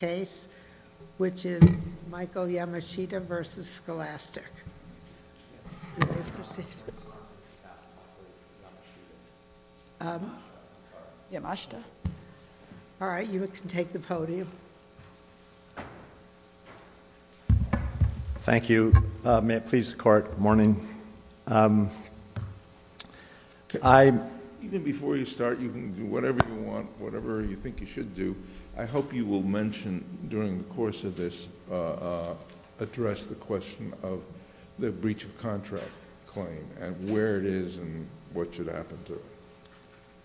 case, which is Michael Yamashita v. Scholastic. You may proceed. Yamashita? All right, you can take the podium. Thank you. May it please the Court, good morning. Even before you start, you can do whatever you want, whatever you think you should do. I hope you will mention during the course of this, address the question of the breach of contract claim and where it is and what should happen to it.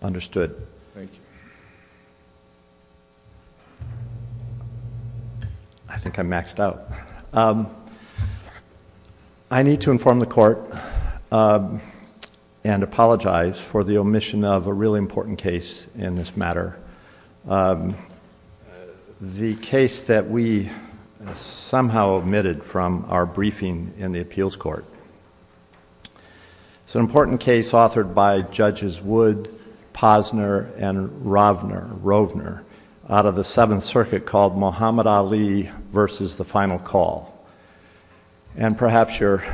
Understood. Thank you. I think I'm maxed out. I need to inform the Court and apologize for the omission of a really important case in this matter. The case that we somehow omitted from our briefing in the Appeals Court. It's an important case authored by Judges Wood, Posner, and Rovner out of the Seventh Circuit called Muhammad Ali v. The Final Call. And perhaps your...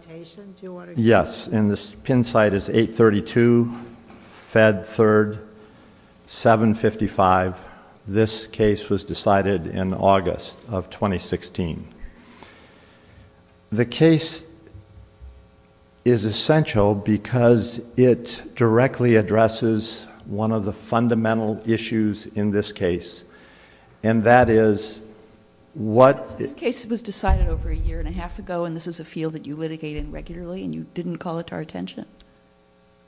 Citation, do you want to... Yes, and the pin site is 832, Fed 3rd, 755. This case was decided in August of 2016. The case is essential because it directly addresses one of the fundamental issues in this case. And that is what... This case was decided over a year and a half ago and this is a field that you litigate in regularly and you didn't call it to our attention?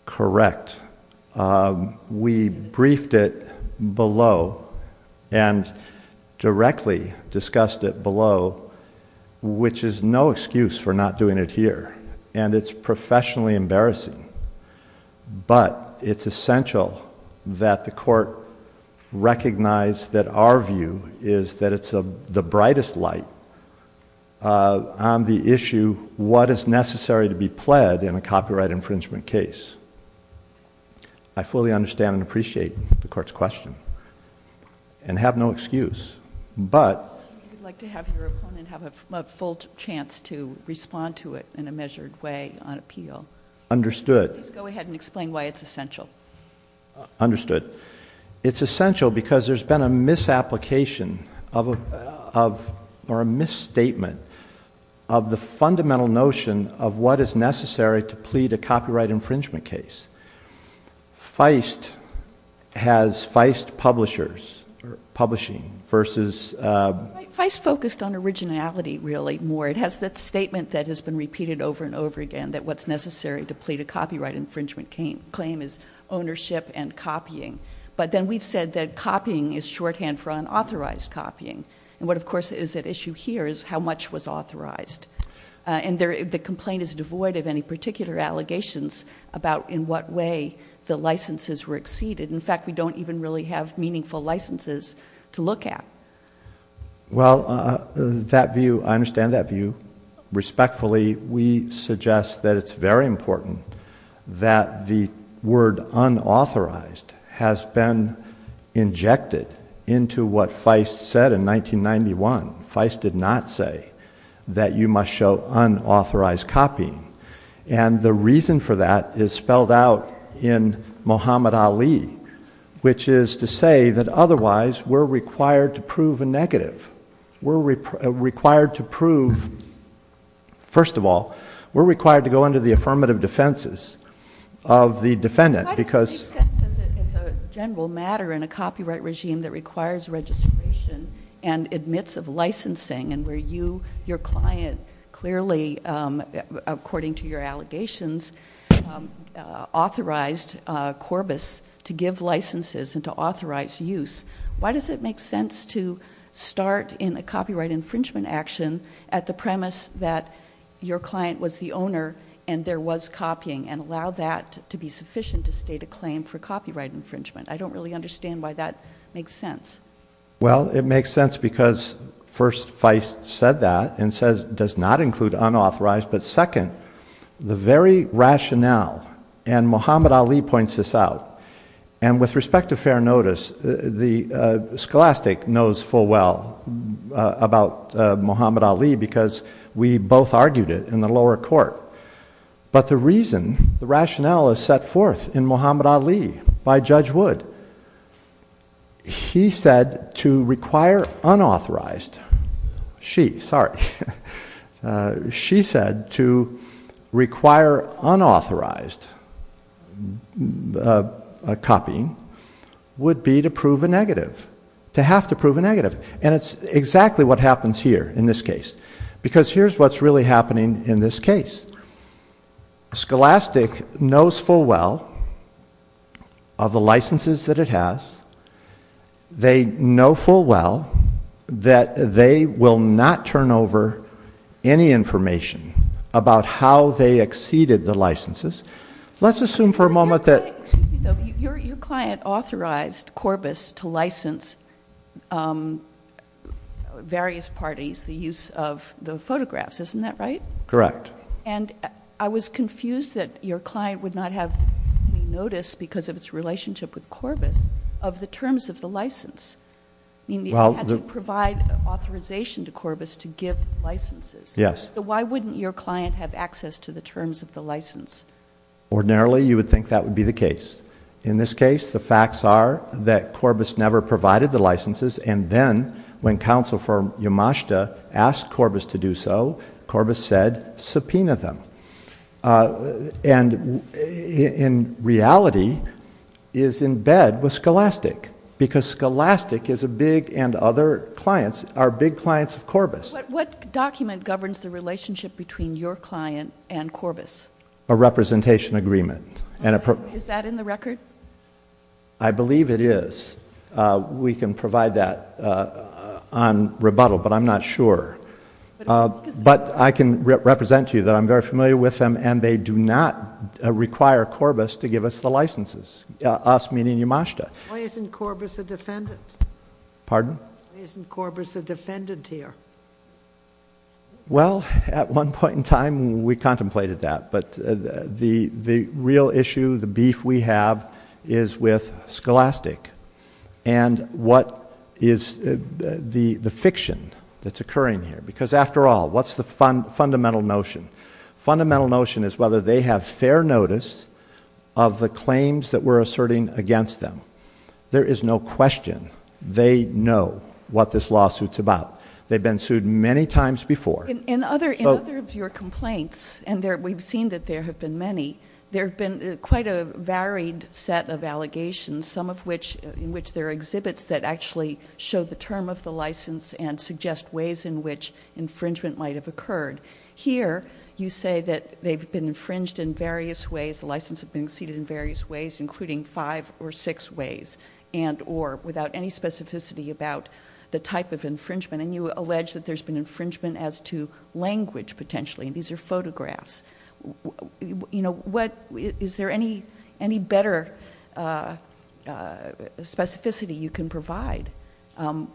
Correct. We briefed it below and directly discussed it below, which is no excuse for not doing it here. And it's professionally embarrassing. But it's essential that the Court recognize that our view is that it's the brightest light on the issue, what is necessary to be pled in a copyright infringement case. I fully understand and appreciate the Court's question and have no excuse. But... I'd like to have your opponent have a full chance to respond to it in a measured way on appeal. Understood. Please go ahead and explain why it's essential. Understood. It's essential because there's been a misapplication or a misstatement of the fundamental notion of what is necessary to plead a copyright infringement case. Feist has Feist Publishing versus... Feist focused on originality, really, more. It has that statement that has been repeated over and over again, that what's necessary to plead a copyright infringement claim is ownership and copying. But then we've said that copying is shorthand for unauthorized copying. And what, of course, is at issue here is how much was authorized. And the complaint is devoid of any particular allegations about in what way the licenses were exceeded. In fact, we don't even really have meaningful licenses to look at. Well, that view, I understand that view. Respectfully, we suggest that it's very important that the word unauthorized has been injected into what Feist said in 1991. Feist did not say that you must show unauthorized copying. And the reason for that is spelled out in Muhammad Ali, which is to say that otherwise we're required to prove a negative. We're required to prove... First of all, we're required to go under the affirmative defenses of the defendant because... Why does it make sense as a general matter in a copyright regime that requires registration and admits of licensing and where you, your client, clearly, according to your allegations, authorized Corbis to give licenses and to authorize use. Why does it make sense to start in a copyright infringement action at the premise that your client was the owner and there was copying and allow that to be sufficient to state a claim for copyright infringement? I don't really understand why that makes sense. Well, it makes sense because first, Feist said that and says it does not include unauthorized. But second, the very rationale and Muhammad Ali points this out. And with respect to fair notice, the Scholastic knows full well about Muhammad Ali because we both argued it in the lower court. But the reason, the rationale is set forth in Muhammad Ali by Judge Wood. He said to require unauthorized... she, sorry... She said to require unauthorized copying would be to prove a negative, to have to prove a negative. And it's exactly what happens here in this case because here's what's really happening in this case. Scholastic knows full well of the licenses that it has. They know full well that they will not turn over any information about how they exceeded the licenses. Let's assume for a moment that... Your client authorized Corbis to license various parties the use of the photographs. Isn't that right? Correct. And I was confused that your client would not have noticed because of its relationship with Corbis of the terms of the license. I mean, they had to provide authorization to Corbis to give licenses. Yes. So why wouldn't your client have access to the terms of the license? Ordinarily, you would think that would be the case. In this case, the facts are that Corbis never provided the licenses. And then when counsel for Yamashita asked Corbis to do so, Corbis said, subpoena them. And in reality, is in bed with Scholastic because Scholastic is a big... and other clients are big clients of Corbis. What document governs the relationship between your client and Corbis? A representation agreement. Is that in the record? I believe it is. We can provide that on rebuttal, but I'm not sure. But I can represent to you that I'm very familiar with them and they do not require Corbis to give us the licenses, us meaning Yamashita. Why isn't Corbis a defendant? Pardon? Why isn't Corbis a defendant here? Well, at one point in time, we contemplated that. But the real issue, the beef we have is with Scholastic and what is the fiction that's occurring here. Because after all, what's the fundamental notion? Fundamental notion is whether they have fair notice of the claims that we're asserting against them. There is no question. They know what this lawsuit's about. They've been sued many times before. In other of your complaints, and we've seen that there have been many, there have been quite a varied set of allegations, some of which in which there are exhibits that actually show the term of the license and suggest ways in which infringement might have occurred. Here, you say that they've been infringed in various ways, the license has been exceeded in various ways, including five or six ways, and or, without any specificity about the type of infringement. And you allege that there's been infringement as to language, potentially. These are photographs. Is there any better specificity you can provide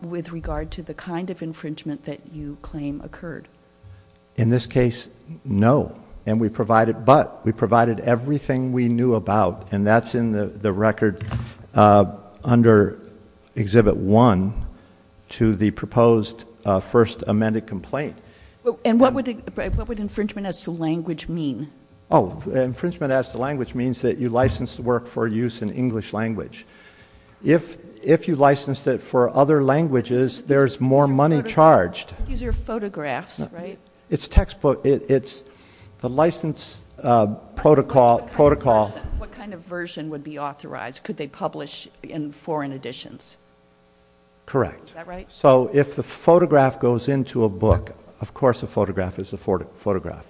with regard to the kind of infringement that you claim occurred? In this case, no. But we provided everything we knew about, and that's in the record under Exhibit 1 to the proposed first amended complaint. And what would infringement as to language mean? Oh, infringement as to language means that you license the work for use in English language. If you licensed it for other languages, there's more money charged. These are photographs, right? It's textbook. It's the license protocol. What kind of version would be authorized? Could they publish in foreign editions? Correct. Is that right? So if the photograph goes into a book, of course a photograph is a photograph.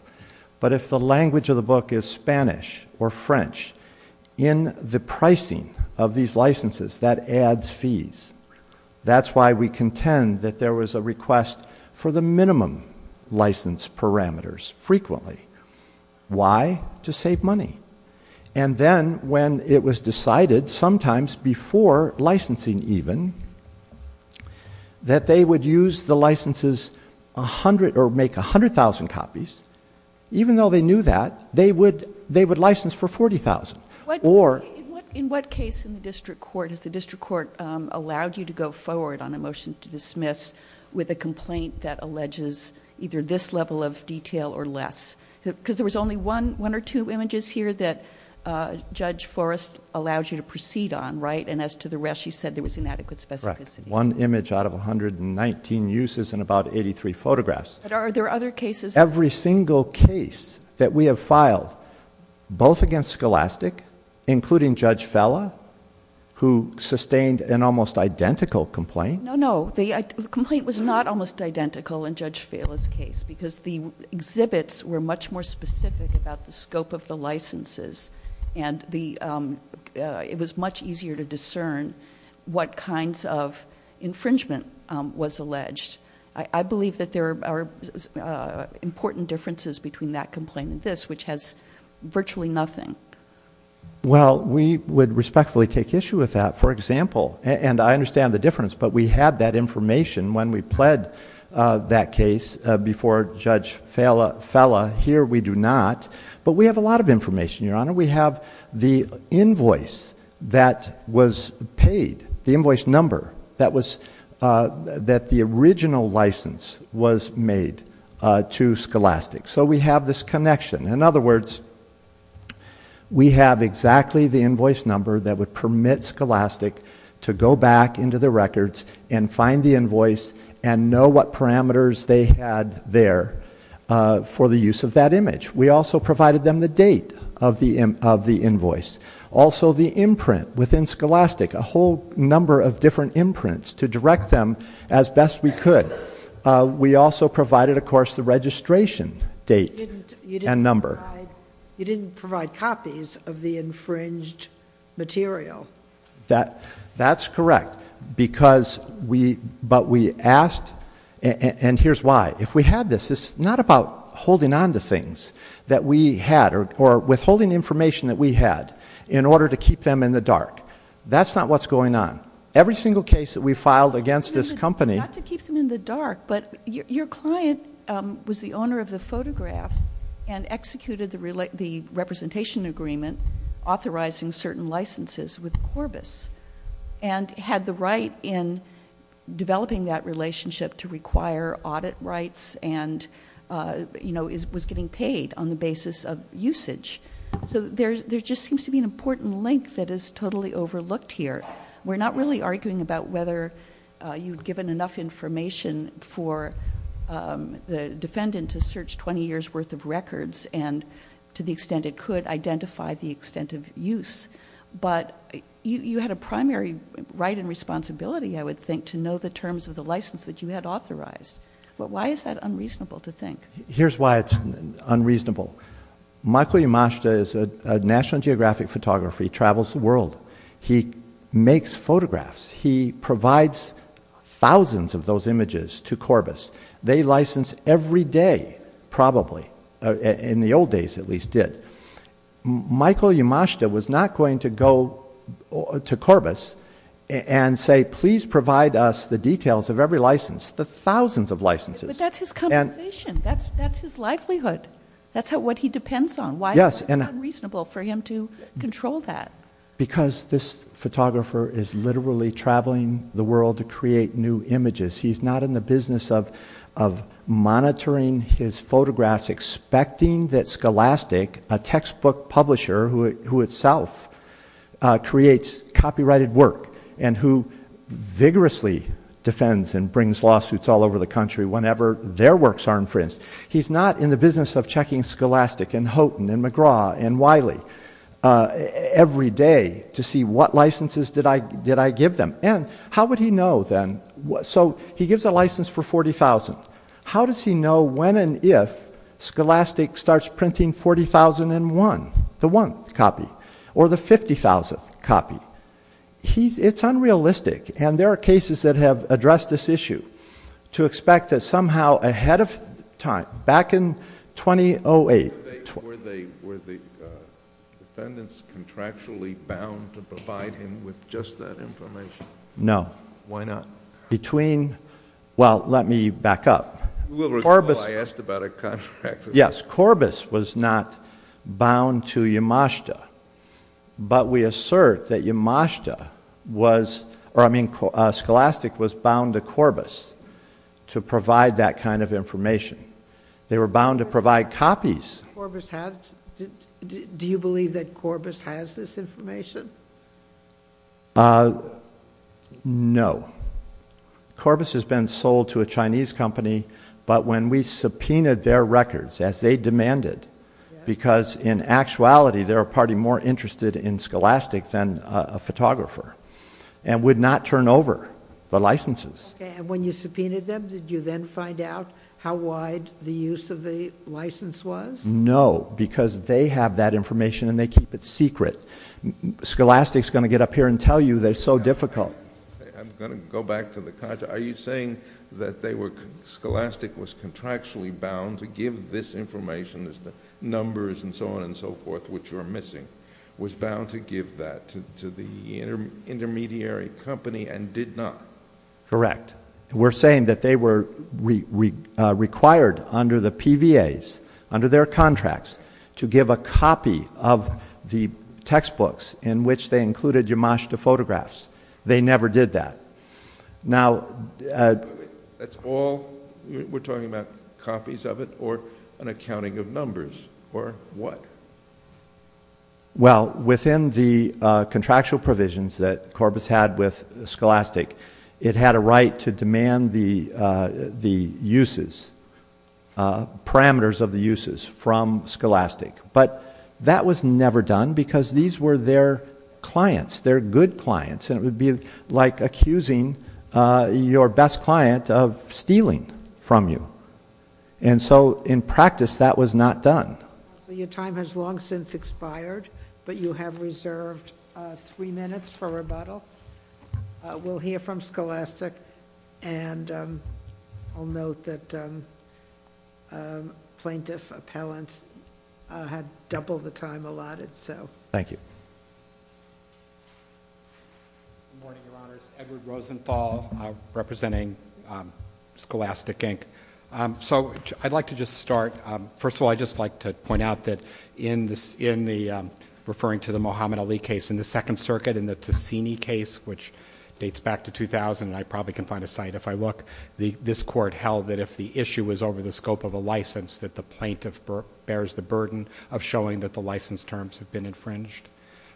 But if the language of the book is Spanish or French, in the pricing of these licenses, that adds fees. That's why we contend that there was a request for the minimum license parameters frequently. Why? To save money. And then when it was decided, sometimes before licensing even, that they would use the licenses or make 100,000 copies, even though they knew that, they would license for 40,000. In what case in the district court has the district court allowed you to go forward on a motion to dismiss with a complaint that alleges either this level of detail or less? Because there was only one or two images here that Judge Forrest allowed you to proceed on, right? And as to the rest, she said there was inadequate specificity. Correct. One image out of 119 uses and about 83 photographs. Are there other cases? Every single case that we have filed, both against Scholastic, including Judge Fella, who sustained an almost identical complaint. No, no. The complaint was not almost identical in Judge Fella's case, because the exhibits were much more specific about the scope of the licenses, and it was much easier to discern what kinds of infringement was alleged. I believe that there are important differences between that complaint and this, which has virtually nothing. Well, we would respectfully take issue with that. For example, and I understand the difference, but we had that information when we pled that case before Judge Fella. Here we do not, but we have a lot of information, Your Honor. We have the invoice that was paid, the invoice number that the original license was made to Scholastic. So we have this connection. In other words, we have exactly the invoice number that would permit Scholastic to go back into the records and find the invoice and know what parameters they had there for the use of that image. We also provided them the date of the invoice, also the imprint within Scholastic, a whole number of different imprints to direct them as best we could. We also provided, of course, the registration date and number. You didn't provide copies of the infringed material. That's correct, but we asked, and here's why. If we had this, it's not about holding on to things that we had or withholding information that we had in order to keep them in the dark. That's not what's going on. Every single case that we filed against this company— Not to keep them in the dark, but your client was the owner of the photographs and executed the representation agreement authorizing certain licenses with Corbis and had the right in developing that relationship to require audit rights and was getting paid on the basis of usage. So there just seems to be an important link that is totally overlooked here. We're not really arguing about whether you've given enough information for the defendant to search 20 years' worth of records and to the extent it could identify the extent of use, but you had a primary right and responsibility, I would think, to know the terms of the license that you had authorized. Why is that unreasonable to think? Here's why it's unreasonable. Michael Yamashita is a National Geographic photographer. He travels the world. He makes photographs. He provides thousands of those images to Corbis. They license every day, probably. In the old days, at least, did. Michael Yamashita was not going to go to Corbis and say, please provide us the details of every license, the thousands of licenses. But that's his compensation. That's his livelihood. That's what he depends on. Why is it unreasonable for him to control that? Because this photographer is literally traveling the world to create new images. He's not in the business of monitoring his photographs, expecting that Scholastic, a textbook publisher who itself creates copyrighted work and who vigorously defends and brings lawsuits all over the country whenever their works are infringed. He's not in the business of checking Scholastic and Houghton and McGraw and Wiley every day to see what licenses did I give them. How would he know then? He gives a license for 40,000. How does he know when and if Scholastic starts printing 40,001, the one copy, or the 50,000th copy? It's unrealistic. There are cases that have addressed this issue to expect that somehow ahead of time, back in 2008. Were the defendants contractually bound to provide him with just that information? No. Why not? Between... well, let me back up. I asked about a contract. Yes. Corbis was not bound to Yamashita, but we assert that Scholastic was bound to Corbis to provide that kind of information. They were bound to provide copies. Do you believe that Corbis has this information? No. Corbis has been sold to a Chinese company, but when we subpoenaed their records, as they demanded, because in actuality they're a party more interested in Scholastic than a photographer, and would not turn over the licenses. And when you subpoenaed them, did you then find out how wide the use of the license was? No, because they have that information and they keep it secret. Scholastic's going to get up here and tell you that it's so difficult. I'm going to go back to the contract. Are you saying that Scholastic was contractually bound to give this information, the numbers and so on and so forth, which were missing, was bound to give that to the intermediary company and did not? Correct. We're saying that they were required under the PVAs, under their contracts, to give a copy of the textbooks in which they included Yamashita photographs. They never did that. Now, that's all? We're talking about copies of it or an accounting of numbers or what? Well, within the contractual provisions that Corbis had with Scholastic, it had a right to demand the uses, parameters of the uses from Scholastic. But that was never done because these were their clients, their good clients, and it would be like accusing your best client of stealing from you. And so, in practice, that was not done. So your time has long since expired, but you have reserved three minutes for rebuttal. We'll hear from Scholastic, and I'll note that plaintiff appellants had double the time allotted, so. Thank you. Good morning, Your Honors. Edward Rosenthal representing Scholastic, Inc. So I'd like to just start. First of all, I'd just like to point out that in the, referring to the Muhammad Ali case, in the Second Circuit, in the Tasini case, which dates back to 2000, and I probably can find a site if I look, this court held that if the issue was over the scope of a license, that the plaintiff bears the burden of showing that the license terms have been infringed.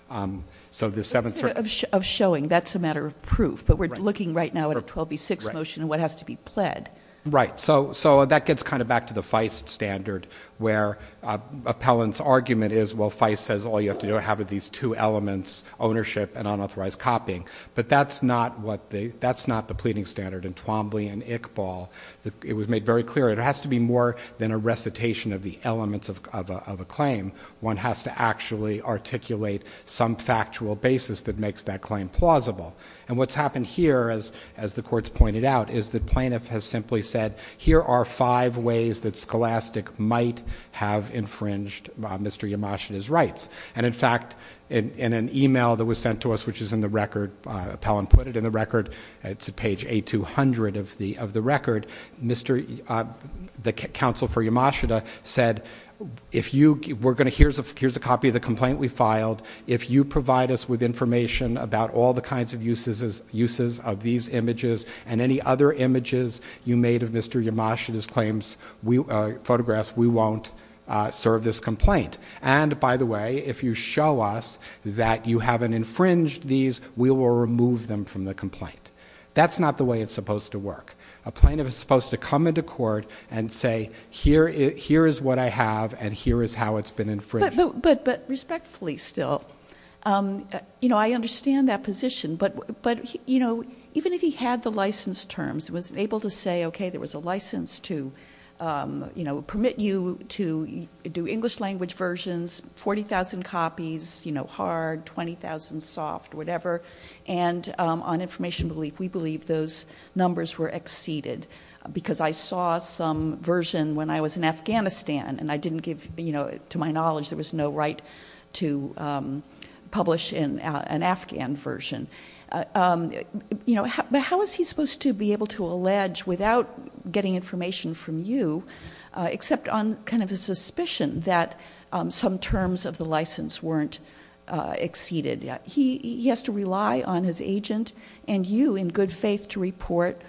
But instead of showing, that's a matter of proof, but we're looking right now at a 12B6 motion and what has to be pled. Right. So that gets kind of back to the Feist standard where appellant's argument is, well, Feist says all you have to do is have these two elements, ownership and unauthorized copying. But that's not the pleading standard in Twombly and Iqbal. It was made very clear it has to be more than a recitation of the elements of a claim. One has to actually articulate some factual basis that makes that claim plausible. And what's happened here, as the court's pointed out, is the plaintiff has simply said, here are five ways that Scholastic might have infringed Mr. Yamashita's rights. And in fact, in an email that was sent to us, which is in the record, appellant put it in the record, it's page A200 of the record, the counsel for Yamashita said, here's a copy of the complaint we filed, if you provide us with information about all the kinds of uses of these images and any other images you made of Mr. Yamashita's photographs, we won't serve this complaint. And, by the way, if you show us that you haven't infringed these, we will remove them from the complaint. That's not the way it's supposed to work. A plaintiff is supposed to come into court and say, here is what I have and here is how it's been infringed. But respectfully still, I understand that position, but even if he had the license terms, was able to say, okay, there was a license to permit you to do English language versions, 40,000 copies, hard, 20,000 soft, whatever, and on information relief we believe those numbers were exceeded because I saw some version when I was in Afghanistan and to my knowledge there was no right to publish an Afghan version. But how is he supposed to be able to allege without getting information from you, except on kind of a suspicion that some terms of the license weren't exceeded? He has to rely on his agent and you in good faith to report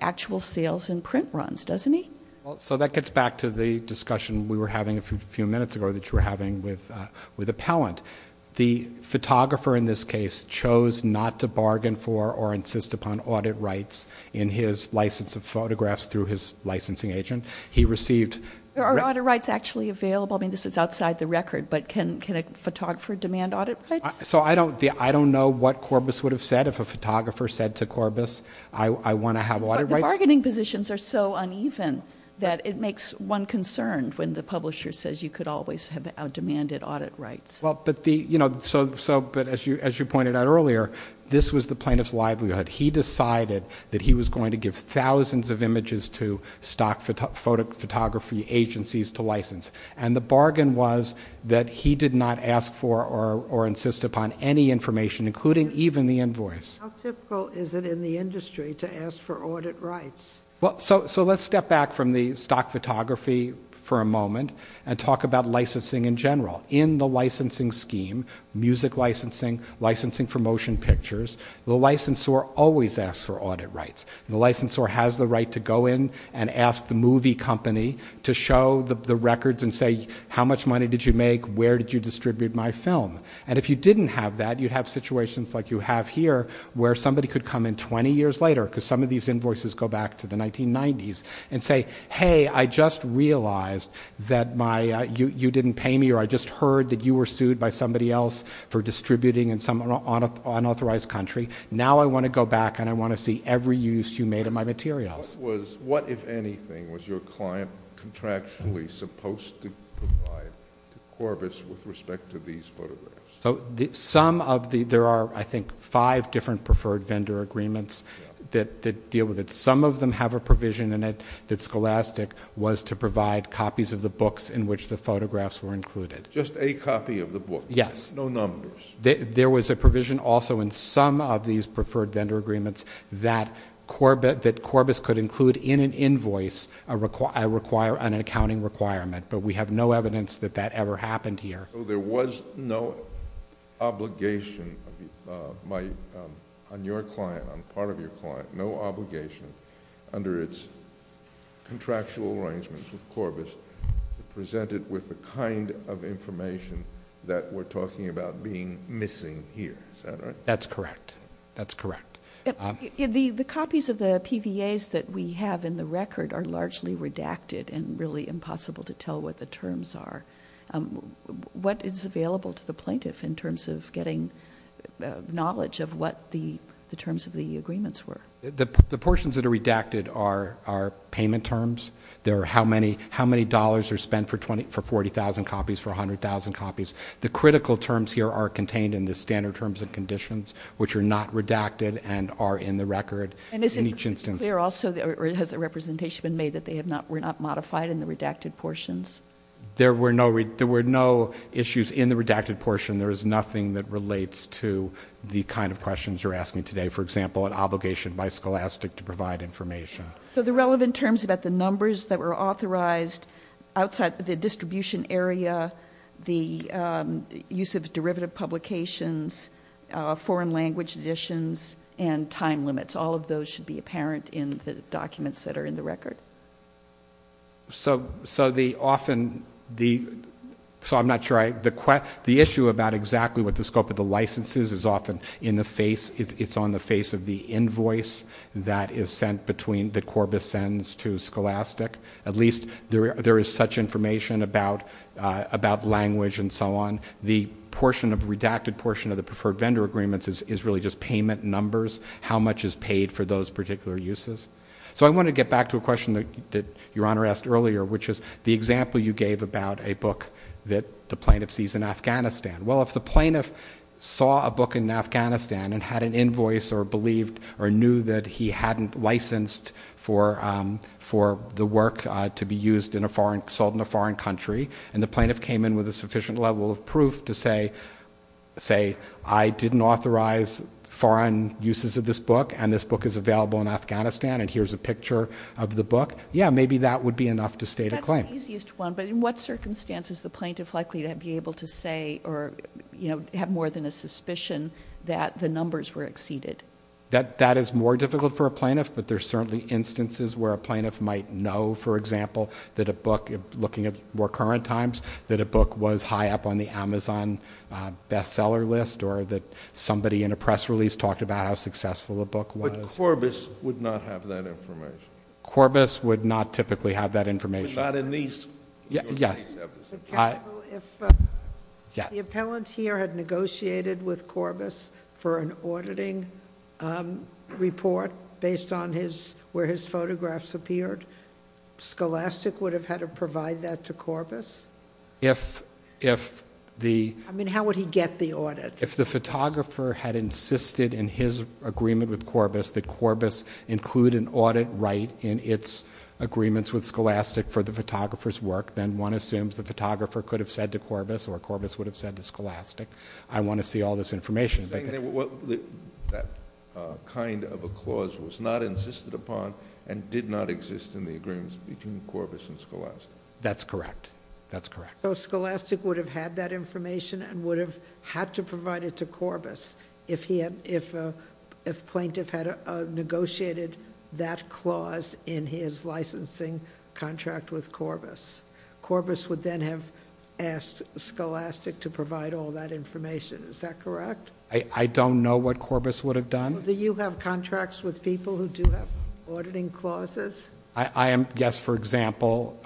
actual sales and print runs, doesn't he? Well, so that gets back to the discussion we were having a few minutes ago that you were having with Appellant. The photographer in this case chose not to bargain for or insist upon audit rights in his license of photographs through his licensing agent. Are audit rights actually available? I mean, this is outside the record, but can a photographer demand audit rights? So I don't know what Corbis would have said if a photographer said to Corbis, I want to have audit rights. But the bargaining positions are so uneven that it makes one concerned when the publisher says you could always have out-demanded audit rights. But as you pointed out earlier, this was the plaintiff's livelihood. He decided that he was going to give thousands of images to stock photography agencies to license, and the bargain was that he did not ask for or insist upon any information, including even the invoice. How typical is it in the industry to ask for audit rights? So let's step back from the stock photography for a moment and talk about licensing in general. In the licensing scheme, music licensing, licensing for motion pictures, the licensor always asks for audit rights. The licensor has the right to go in and ask the movie company to show the records and say how much money did you make, where did you distribute my film. And if you didn't have that, you'd have situations like you have here where somebody could come in 20 years later, because some of these invoices go back to the 1990s, and say, hey, I just realized that you didn't pay me or I just heard that you were sued by somebody else for distributing in some unauthorized country. Now I want to go back and I want to see every use you made of my materials. So there are, I think, five different preferred vendor agreements that deal with it. Some of them have a provision in it that Scholastic was to provide copies of the books in which the photographs were included. Just a copy of the book. Yes. No numbers. There was a provision also in some of these preferred vendor agreements that Corbis could include in an invoice an accounting requirement, but we have no evidence that that ever happened here. So there was no obligation on your client, on part of your client, no obligation under its contractual arrangements with Corbis to present it with the kind of information that we're talking about being missing here. Is that right? That's correct. That's correct. The copies of the PVAs that we have in the record are largely redacted and really impossible to tell what the terms are. What is available to the plaintiff in terms of getting knowledge of what the terms of the agreements were? The portions that are redacted are payment terms. They're how many dollars are spent for 40,000 copies, for 100,000 copies. The critical terms here are contained in the standard terms and conditions, which are not redacted and are in the record in each instance. Is it clear also or has a representation been made that they were not modified in the redacted portions? There were no issues in the redacted portion. There is nothing that relates to the kind of questions you're asking today, for example, an obligation by Scholastic to provide information. The relevant terms about the numbers that were authorized outside the distribution area, the use of derivative publications, foreign language editions, and time limits, all of those should be apparent in the documents that are in the record. So the issue about exactly what the scope of the license is is often it's on the face of the invoice that is sent between, that Corbis sends to Scholastic. At least there is such information about language and so on. The portion of the redacted portion of the preferred vendor agreements is really just payment numbers. How much is paid for those particular uses? So I want to get back to a question that Your Honor asked earlier, which is the example you gave about a book that the plaintiff sees in Afghanistan. Well, if the plaintiff saw a book in Afghanistan and had an invoice or knew that he hadn't licensed for the work to be sold in a foreign country and the plaintiff came in with a sufficient level of proof to say, I didn't authorize foreign uses of this book, and this book is available in Afghanistan, and here's a picture of the book, yeah, maybe that would be enough to state a claim. That's the easiest one. But in what circumstances is the plaintiff likely to be able to say or have more than a suspicion that the numbers were exceeded? That is more difficult for a plaintiff, but there are certainly instances where a plaintiff might know, for example, that a book, looking at more current times, that a book was high up on the Amazon bestseller list or that somebody in a press release talked about how successful a book was. But Corbis would not have that information. Corbis would not typically have that information. But not in these cases. Yes. If the appellant here had negotiated with Corbis for an auditing report based on where his photographs appeared, Scholastic would have had to provide that to Corbis? I mean, how would he get the audit? If the photographer had insisted in his agreement with Corbis that Corbis include an audit right in its agreements with Scholastic for the photographer's work, then one assumes the photographer could have said to Corbis or Corbis would have said to Scholastic, I want to see all this information. That kind of a clause was not insisted upon and did not exist in the agreements between Corbis and Scholastic. That's correct. That's correct. So Scholastic would have had that information and would have had to provide it to Corbis if plaintiff had negotiated that clause in his licensing contract with Corbis. Corbis would then have asked Scholastic to provide all that information. Is that correct? I don't know what Corbis would have done. Do you have contracts with people who do have auditing clauses? Yes. For example,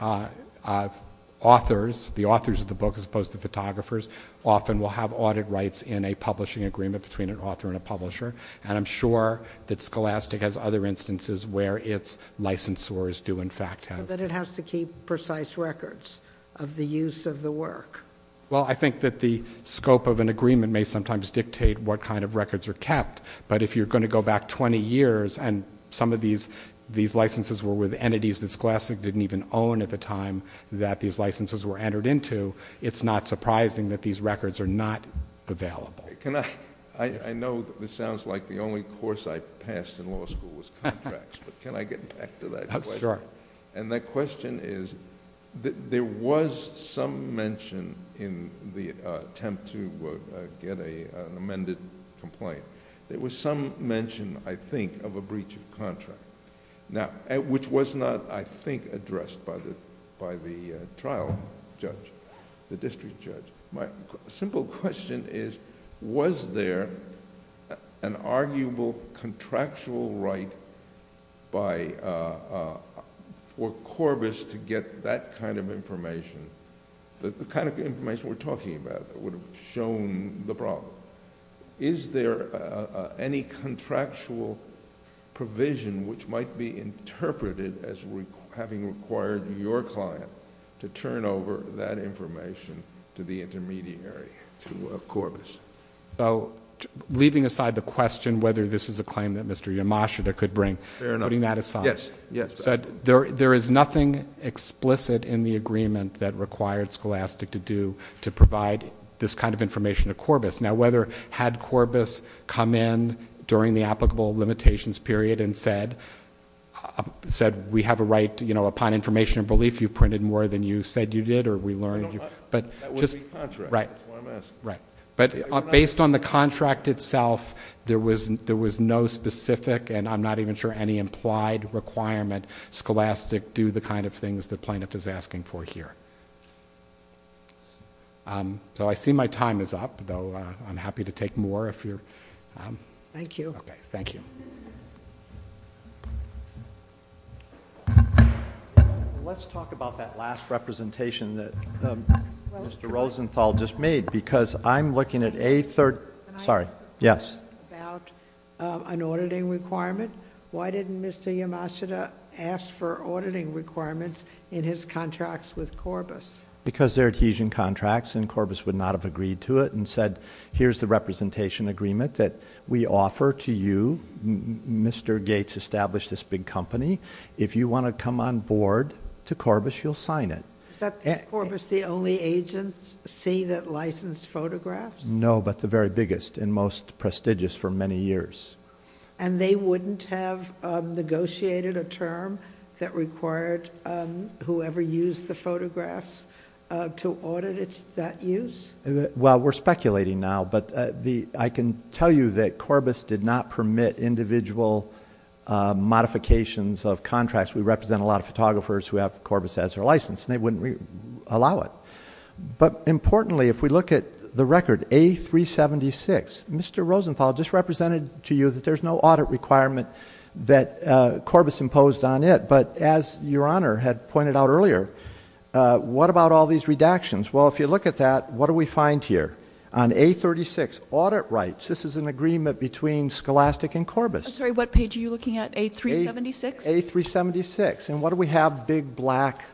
authors, the authors of the book as opposed to photographers, often will have audit rights in a publishing agreement between an author and a publisher, and I'm sure that Scholastic has other instances where its licensors do in fact have. But it has to keep precise records of the use of the work. Well, I think that the scope of an agreement may sometimes dictate what kind of records are kept, but if you're going to go back 20 years and some of these licenses were with entities that Scholastic didn't even own at the time that these licenses were entered into, it's not surprising that these records are not available. I know this sounds like the only course I passed in law school was contracts, but can I get back to that question? Sure. And that question is, there was some mention in the attempt to get an amended complaint there was some mention, I think, of a breach of contract, which was not, I think, addressed by the trial judge, the district judge. My simple question is, was there an arguable contractual right for Corbis to get that kind of information, the kind of information we're talking about that would have shown the problem? Is there any contractual provision which might be interpreted as having required your client to turn over that information to the intermediary, to Corbis? So leaving aside the question whether this is a claim that Mr. Yamashita could bring, putting that aside, there is nothing explicit in the agreement that required Scholastic to do to provide this kind of information to Corbis. Now, had Corbis come in during the applicable limitations period and said, we have a right upon information and belief, you printed more than you said you did or we learned. That wouldn't be contract, is what I'm asking. Right. But based on the contract itself, there was no specific, and I'm not even sure any implied requirement, Scholastic do the kind of things the plaintiff is asking for here. So I see my time is up, though I'm happy to take more if you're... Thank you. Okay, thank you. Let's talk about that last representation that Mr. Rosenthal just made, because I'm looking at a third... Can I ask a question about an auditing requirement? Why didn't Mr. Yamashita ask for auditing requirements in his contracts with Corbis? Because they're adhesion contracts and Corbis would not have agreed to it and said, here's the representation agreement that we offer to you. Mr. Gates established this big company. If you want to come on board to Corbis, you'll sign it. Is Corbis the only agency that licensed photographs? No, but the very biggest and most prestigious for many years. And they wouldn't have negotiated a term that required whoever used the photographs to audit that use? Well, we're speculating now, but I can tell you that Corbis did not permit individual modifications of contracts. We represent a lot of photographers who have Corbis as their license and they wouldn't allow it. But importantly, if we look at the record, A376, Mr. Rosenthal just represented to you that there's no audit requirement that Corbis imposed on it. But as Your Honor had pointed out earlier, what about all these redactions? Well, if you look at that, what do we find here? On A36, audit rights. This is an agreement between Scholastic and Corbis. I'm sorry, what page are you looking at? A376? A376. And what do we have? Big black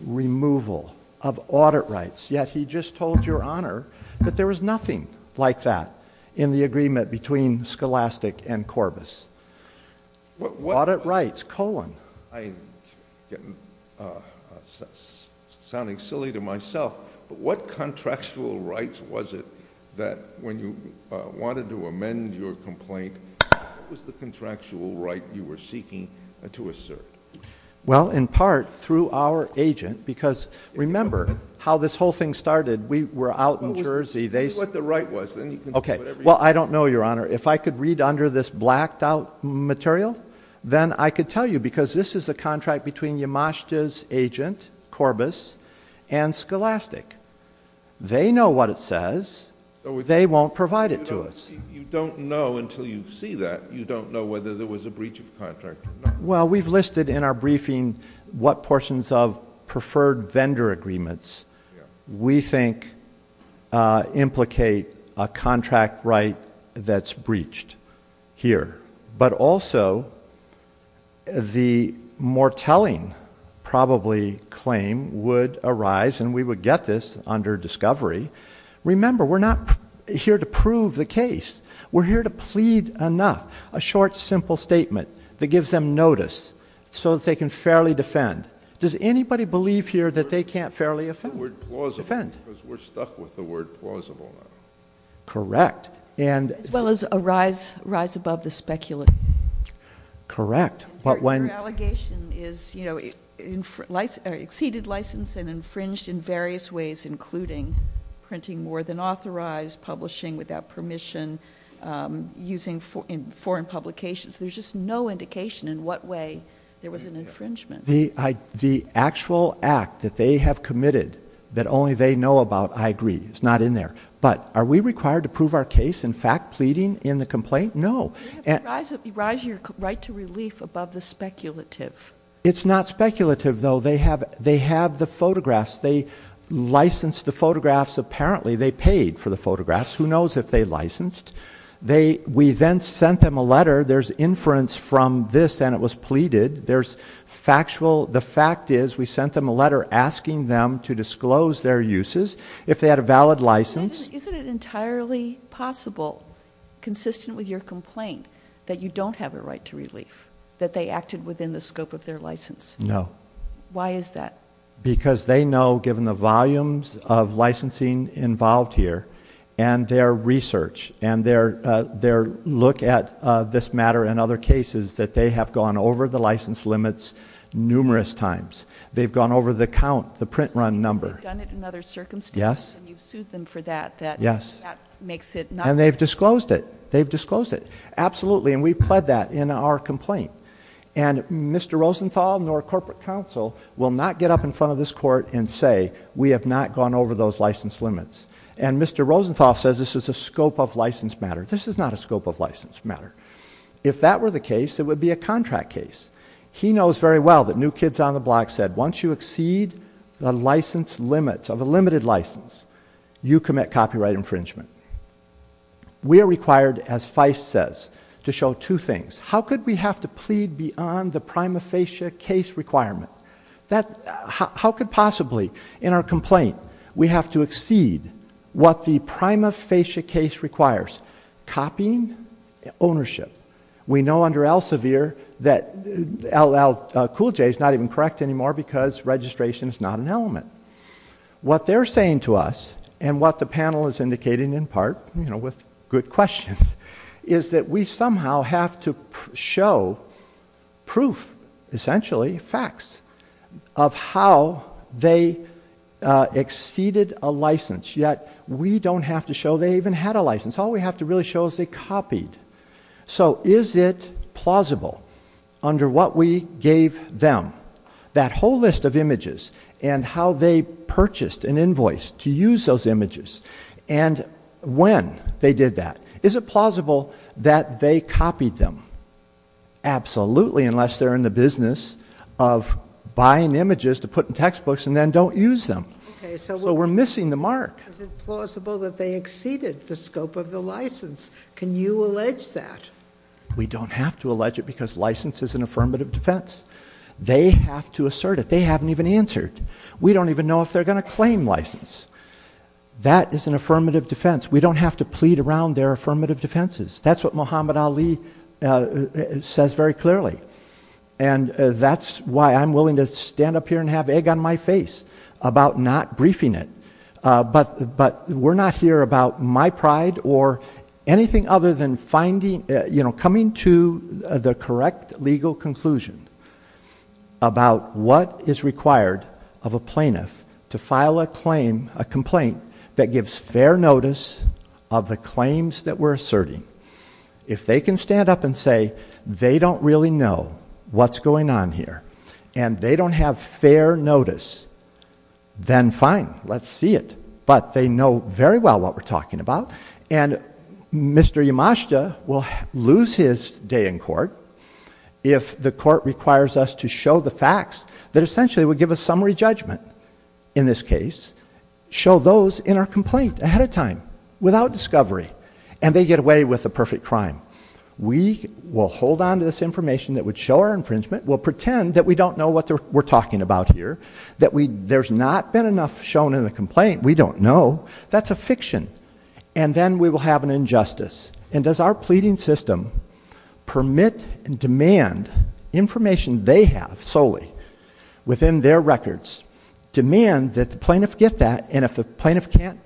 removal of audit rights. Yet he just told Your Honor that there was nothing like that in the agreement between Scholastic and Corbis. Audit rights, colon. I'm sounding silly to myself, but what contractual rights was it that when you wanted to amend your complaint, what was the contractual right you were seeking to assert? Well, in part, through our agent, because remember how this whole thing started. We were out in Jersey. Tell me what the right was. Well, I don't know, Your Honor. If I could read under this blacked-out material, then I could tell you, because this is a contract between Yamashita's agent, Corbis, and Scholastic. They know what it says. They won't provide it to us. You don't know until you see that. You don't know whether there was a breach of contract. Well, we've listed in our briefing what portions of preferred vendor agreements we think implicate a contract right that's breached here. But also, the more telling, probably, claim would arise, and we would get this under discovery. Remember, we're not here to prove the case. We're here to plead enough. A short, simple statement that gives them notice so that they can fairly defend. Does anybody believe here that they can't fairly defend? The word plausible, because we're stuck with the word plausible now. Correct. As well as a rise above the speculative. Correct. Your allegation is, you know, exceeded license and infringed in various ways, including printing more than authorized, publishing without permission, using foreign publications. There's just no indication in what way there was an infringement. The actual act that they have committed, that only they know about, I agree. It's not in there. But are we required to prove our case in fact pleading in the complaint? No. You have to rise your right to relief above the speculative. It's not speculative, though. They have the photographs. They licensed the photographs. Apparently, they paid for the photographs. Who knows if they licensed? We then sent them a letter. There's inference from this, and it was pleaded. There's factual. The fact is, we sent them a letter asking them to disclose their uses. If they had a valid license. Isn't it entirely possible, consistent with your complaint, that you don't have a right to relief, that they acted within the scope of their license? No. Why is that? Because they know, given the volumes of licensing involved here and their research and their look at this matter and other cases, that they have gone over the license limits numerous times. They've gone over the count, the print run number. You've done it in other circumstances, and you've sued them for that. Yes. That makes it not... And they've disclosed it. They've disclosed it. Absolutely, and we've pled that in our complaint. Mr. Rosenthal nor corporate counsel will not get up in front of this court and say, we have not gone over those license limits. And Mr. Rosenthal says this is a scope of license matter. This is not a scope of license matter. If that were the case, it would be a contract case. He knows very well that New Kids on the Block said, once you exceed the license limits of a limited license, you commit copyright infringement. We are required, as Feist says, to show two things. How could we have to plead beyond the prima facie case requirement? How could possibly in our complaint we have to exceed what the prima facie case requires? Copying ownership. We know under Elsevier that LL Cool J is not even correct anymore because registration is not an element. What they're saying to us, and what the panel is indicating in part, you know, with good questions, is that we somehow have to show proof, essentially facts, of how they exceeded a license, yet we don't have to show they even had a license. All we have to really show is they copied. So is it plausible, under what we gave them, that whole list of images and how they purchased an invoice to use those images, and when they did that, is it plausible that they copied them? Absolutely, unless they're in the business of buying images to put in textbooks and then don't use them. So we're missing the mark. Is it plausible that they exceeded the scope of the license? Can you allege that? We don't have to allege it because license is an affirmative defense. They have to assert it. They haven't even answered. We don't even know if they're going to claim license. That is an affirmative defense. We don't have to plead around their affirmative defenses. That's what Muhammad Ali says very clearly, and that's why I'm willing to stand up here and have egg on my face about not briefing it. But we're not here about my pride or anything other than coming to the correct legal conclusion about what is required of a plaintiff to file a complaint that gives fair notice of the claims that we're asserting. If they can stand up and say they don't really know what's going on here and they don't have fair notice, then fine, let's see it. But they know very well what we're talking about, and Mr. Yamashita will lose his day in court if the court requires us to show the facts that essentially would give a summary judgment in this case, show those in our complaint ahead of time without discovery, and they get away with a perfect crime. We will hold on to this information that would show our infringement. We'll pretend that we don't know what we're talking about here, that there's not been enough shown in the complaint. We don't know. That's a fiction. And then we will have an injustice. And does our pleading system permit and demand information they have solely within their records, demand that the plaintiff get that, and if the plaintiff can't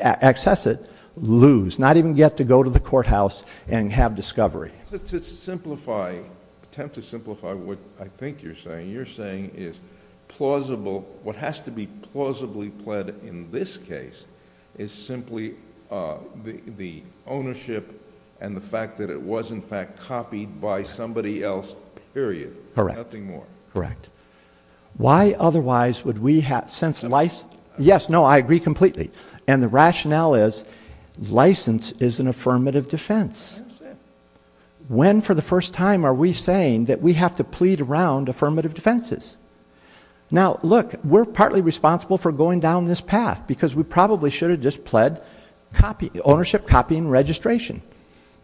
access it, lose, not even get to go to the courthouse and have discovery? To simplify, attempt to simplify what I think you're saying, you're saying is plausible, what has to be plausibly pled in this case is simply the ownership and the fact that it was in fact copied by somebody else, period. Correct. Nothing more. Correct. Why otherwise would we sense license? Yes, no, I agree completely. And the rationale is license is an affirmative defense. When for the first time are we saying that we have to plead around affirmative defenses? Now, look, we're partly responsible for going down this path because we probably should have just pled ownership, copying, registration,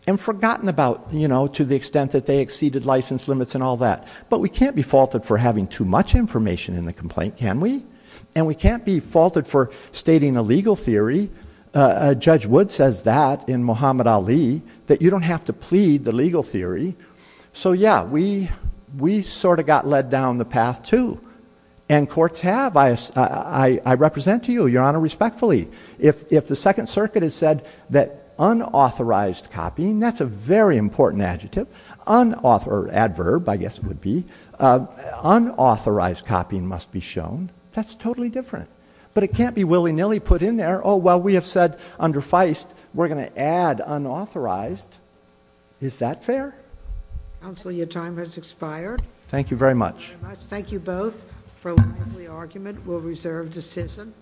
and forgotten about to the extent that they exceeded license limits and all that. But we can't be faulted for having too much information in the complaint, can we? And we can't be faulted for stating a legal theory. Judge Wood says that in Muhammad Ali, that you don't have to plead the legal theory. So, yeah, we sort of got led down the path, too. And courts have. I represent to you, Your Honor, respectfully. If the Second Circuit has said that unauthorized copying, that's a very important adjective, or adverb, I guess it would be, unauthorized copying must be shown, that's totally different. But it can't be willy-nilly put in there, oh, well, we have said under Feist we're going to add unauthorized. Is that fair? Counsel, your time has expired. Thank you very much. Thank you both for the argument. We'll reserve decision.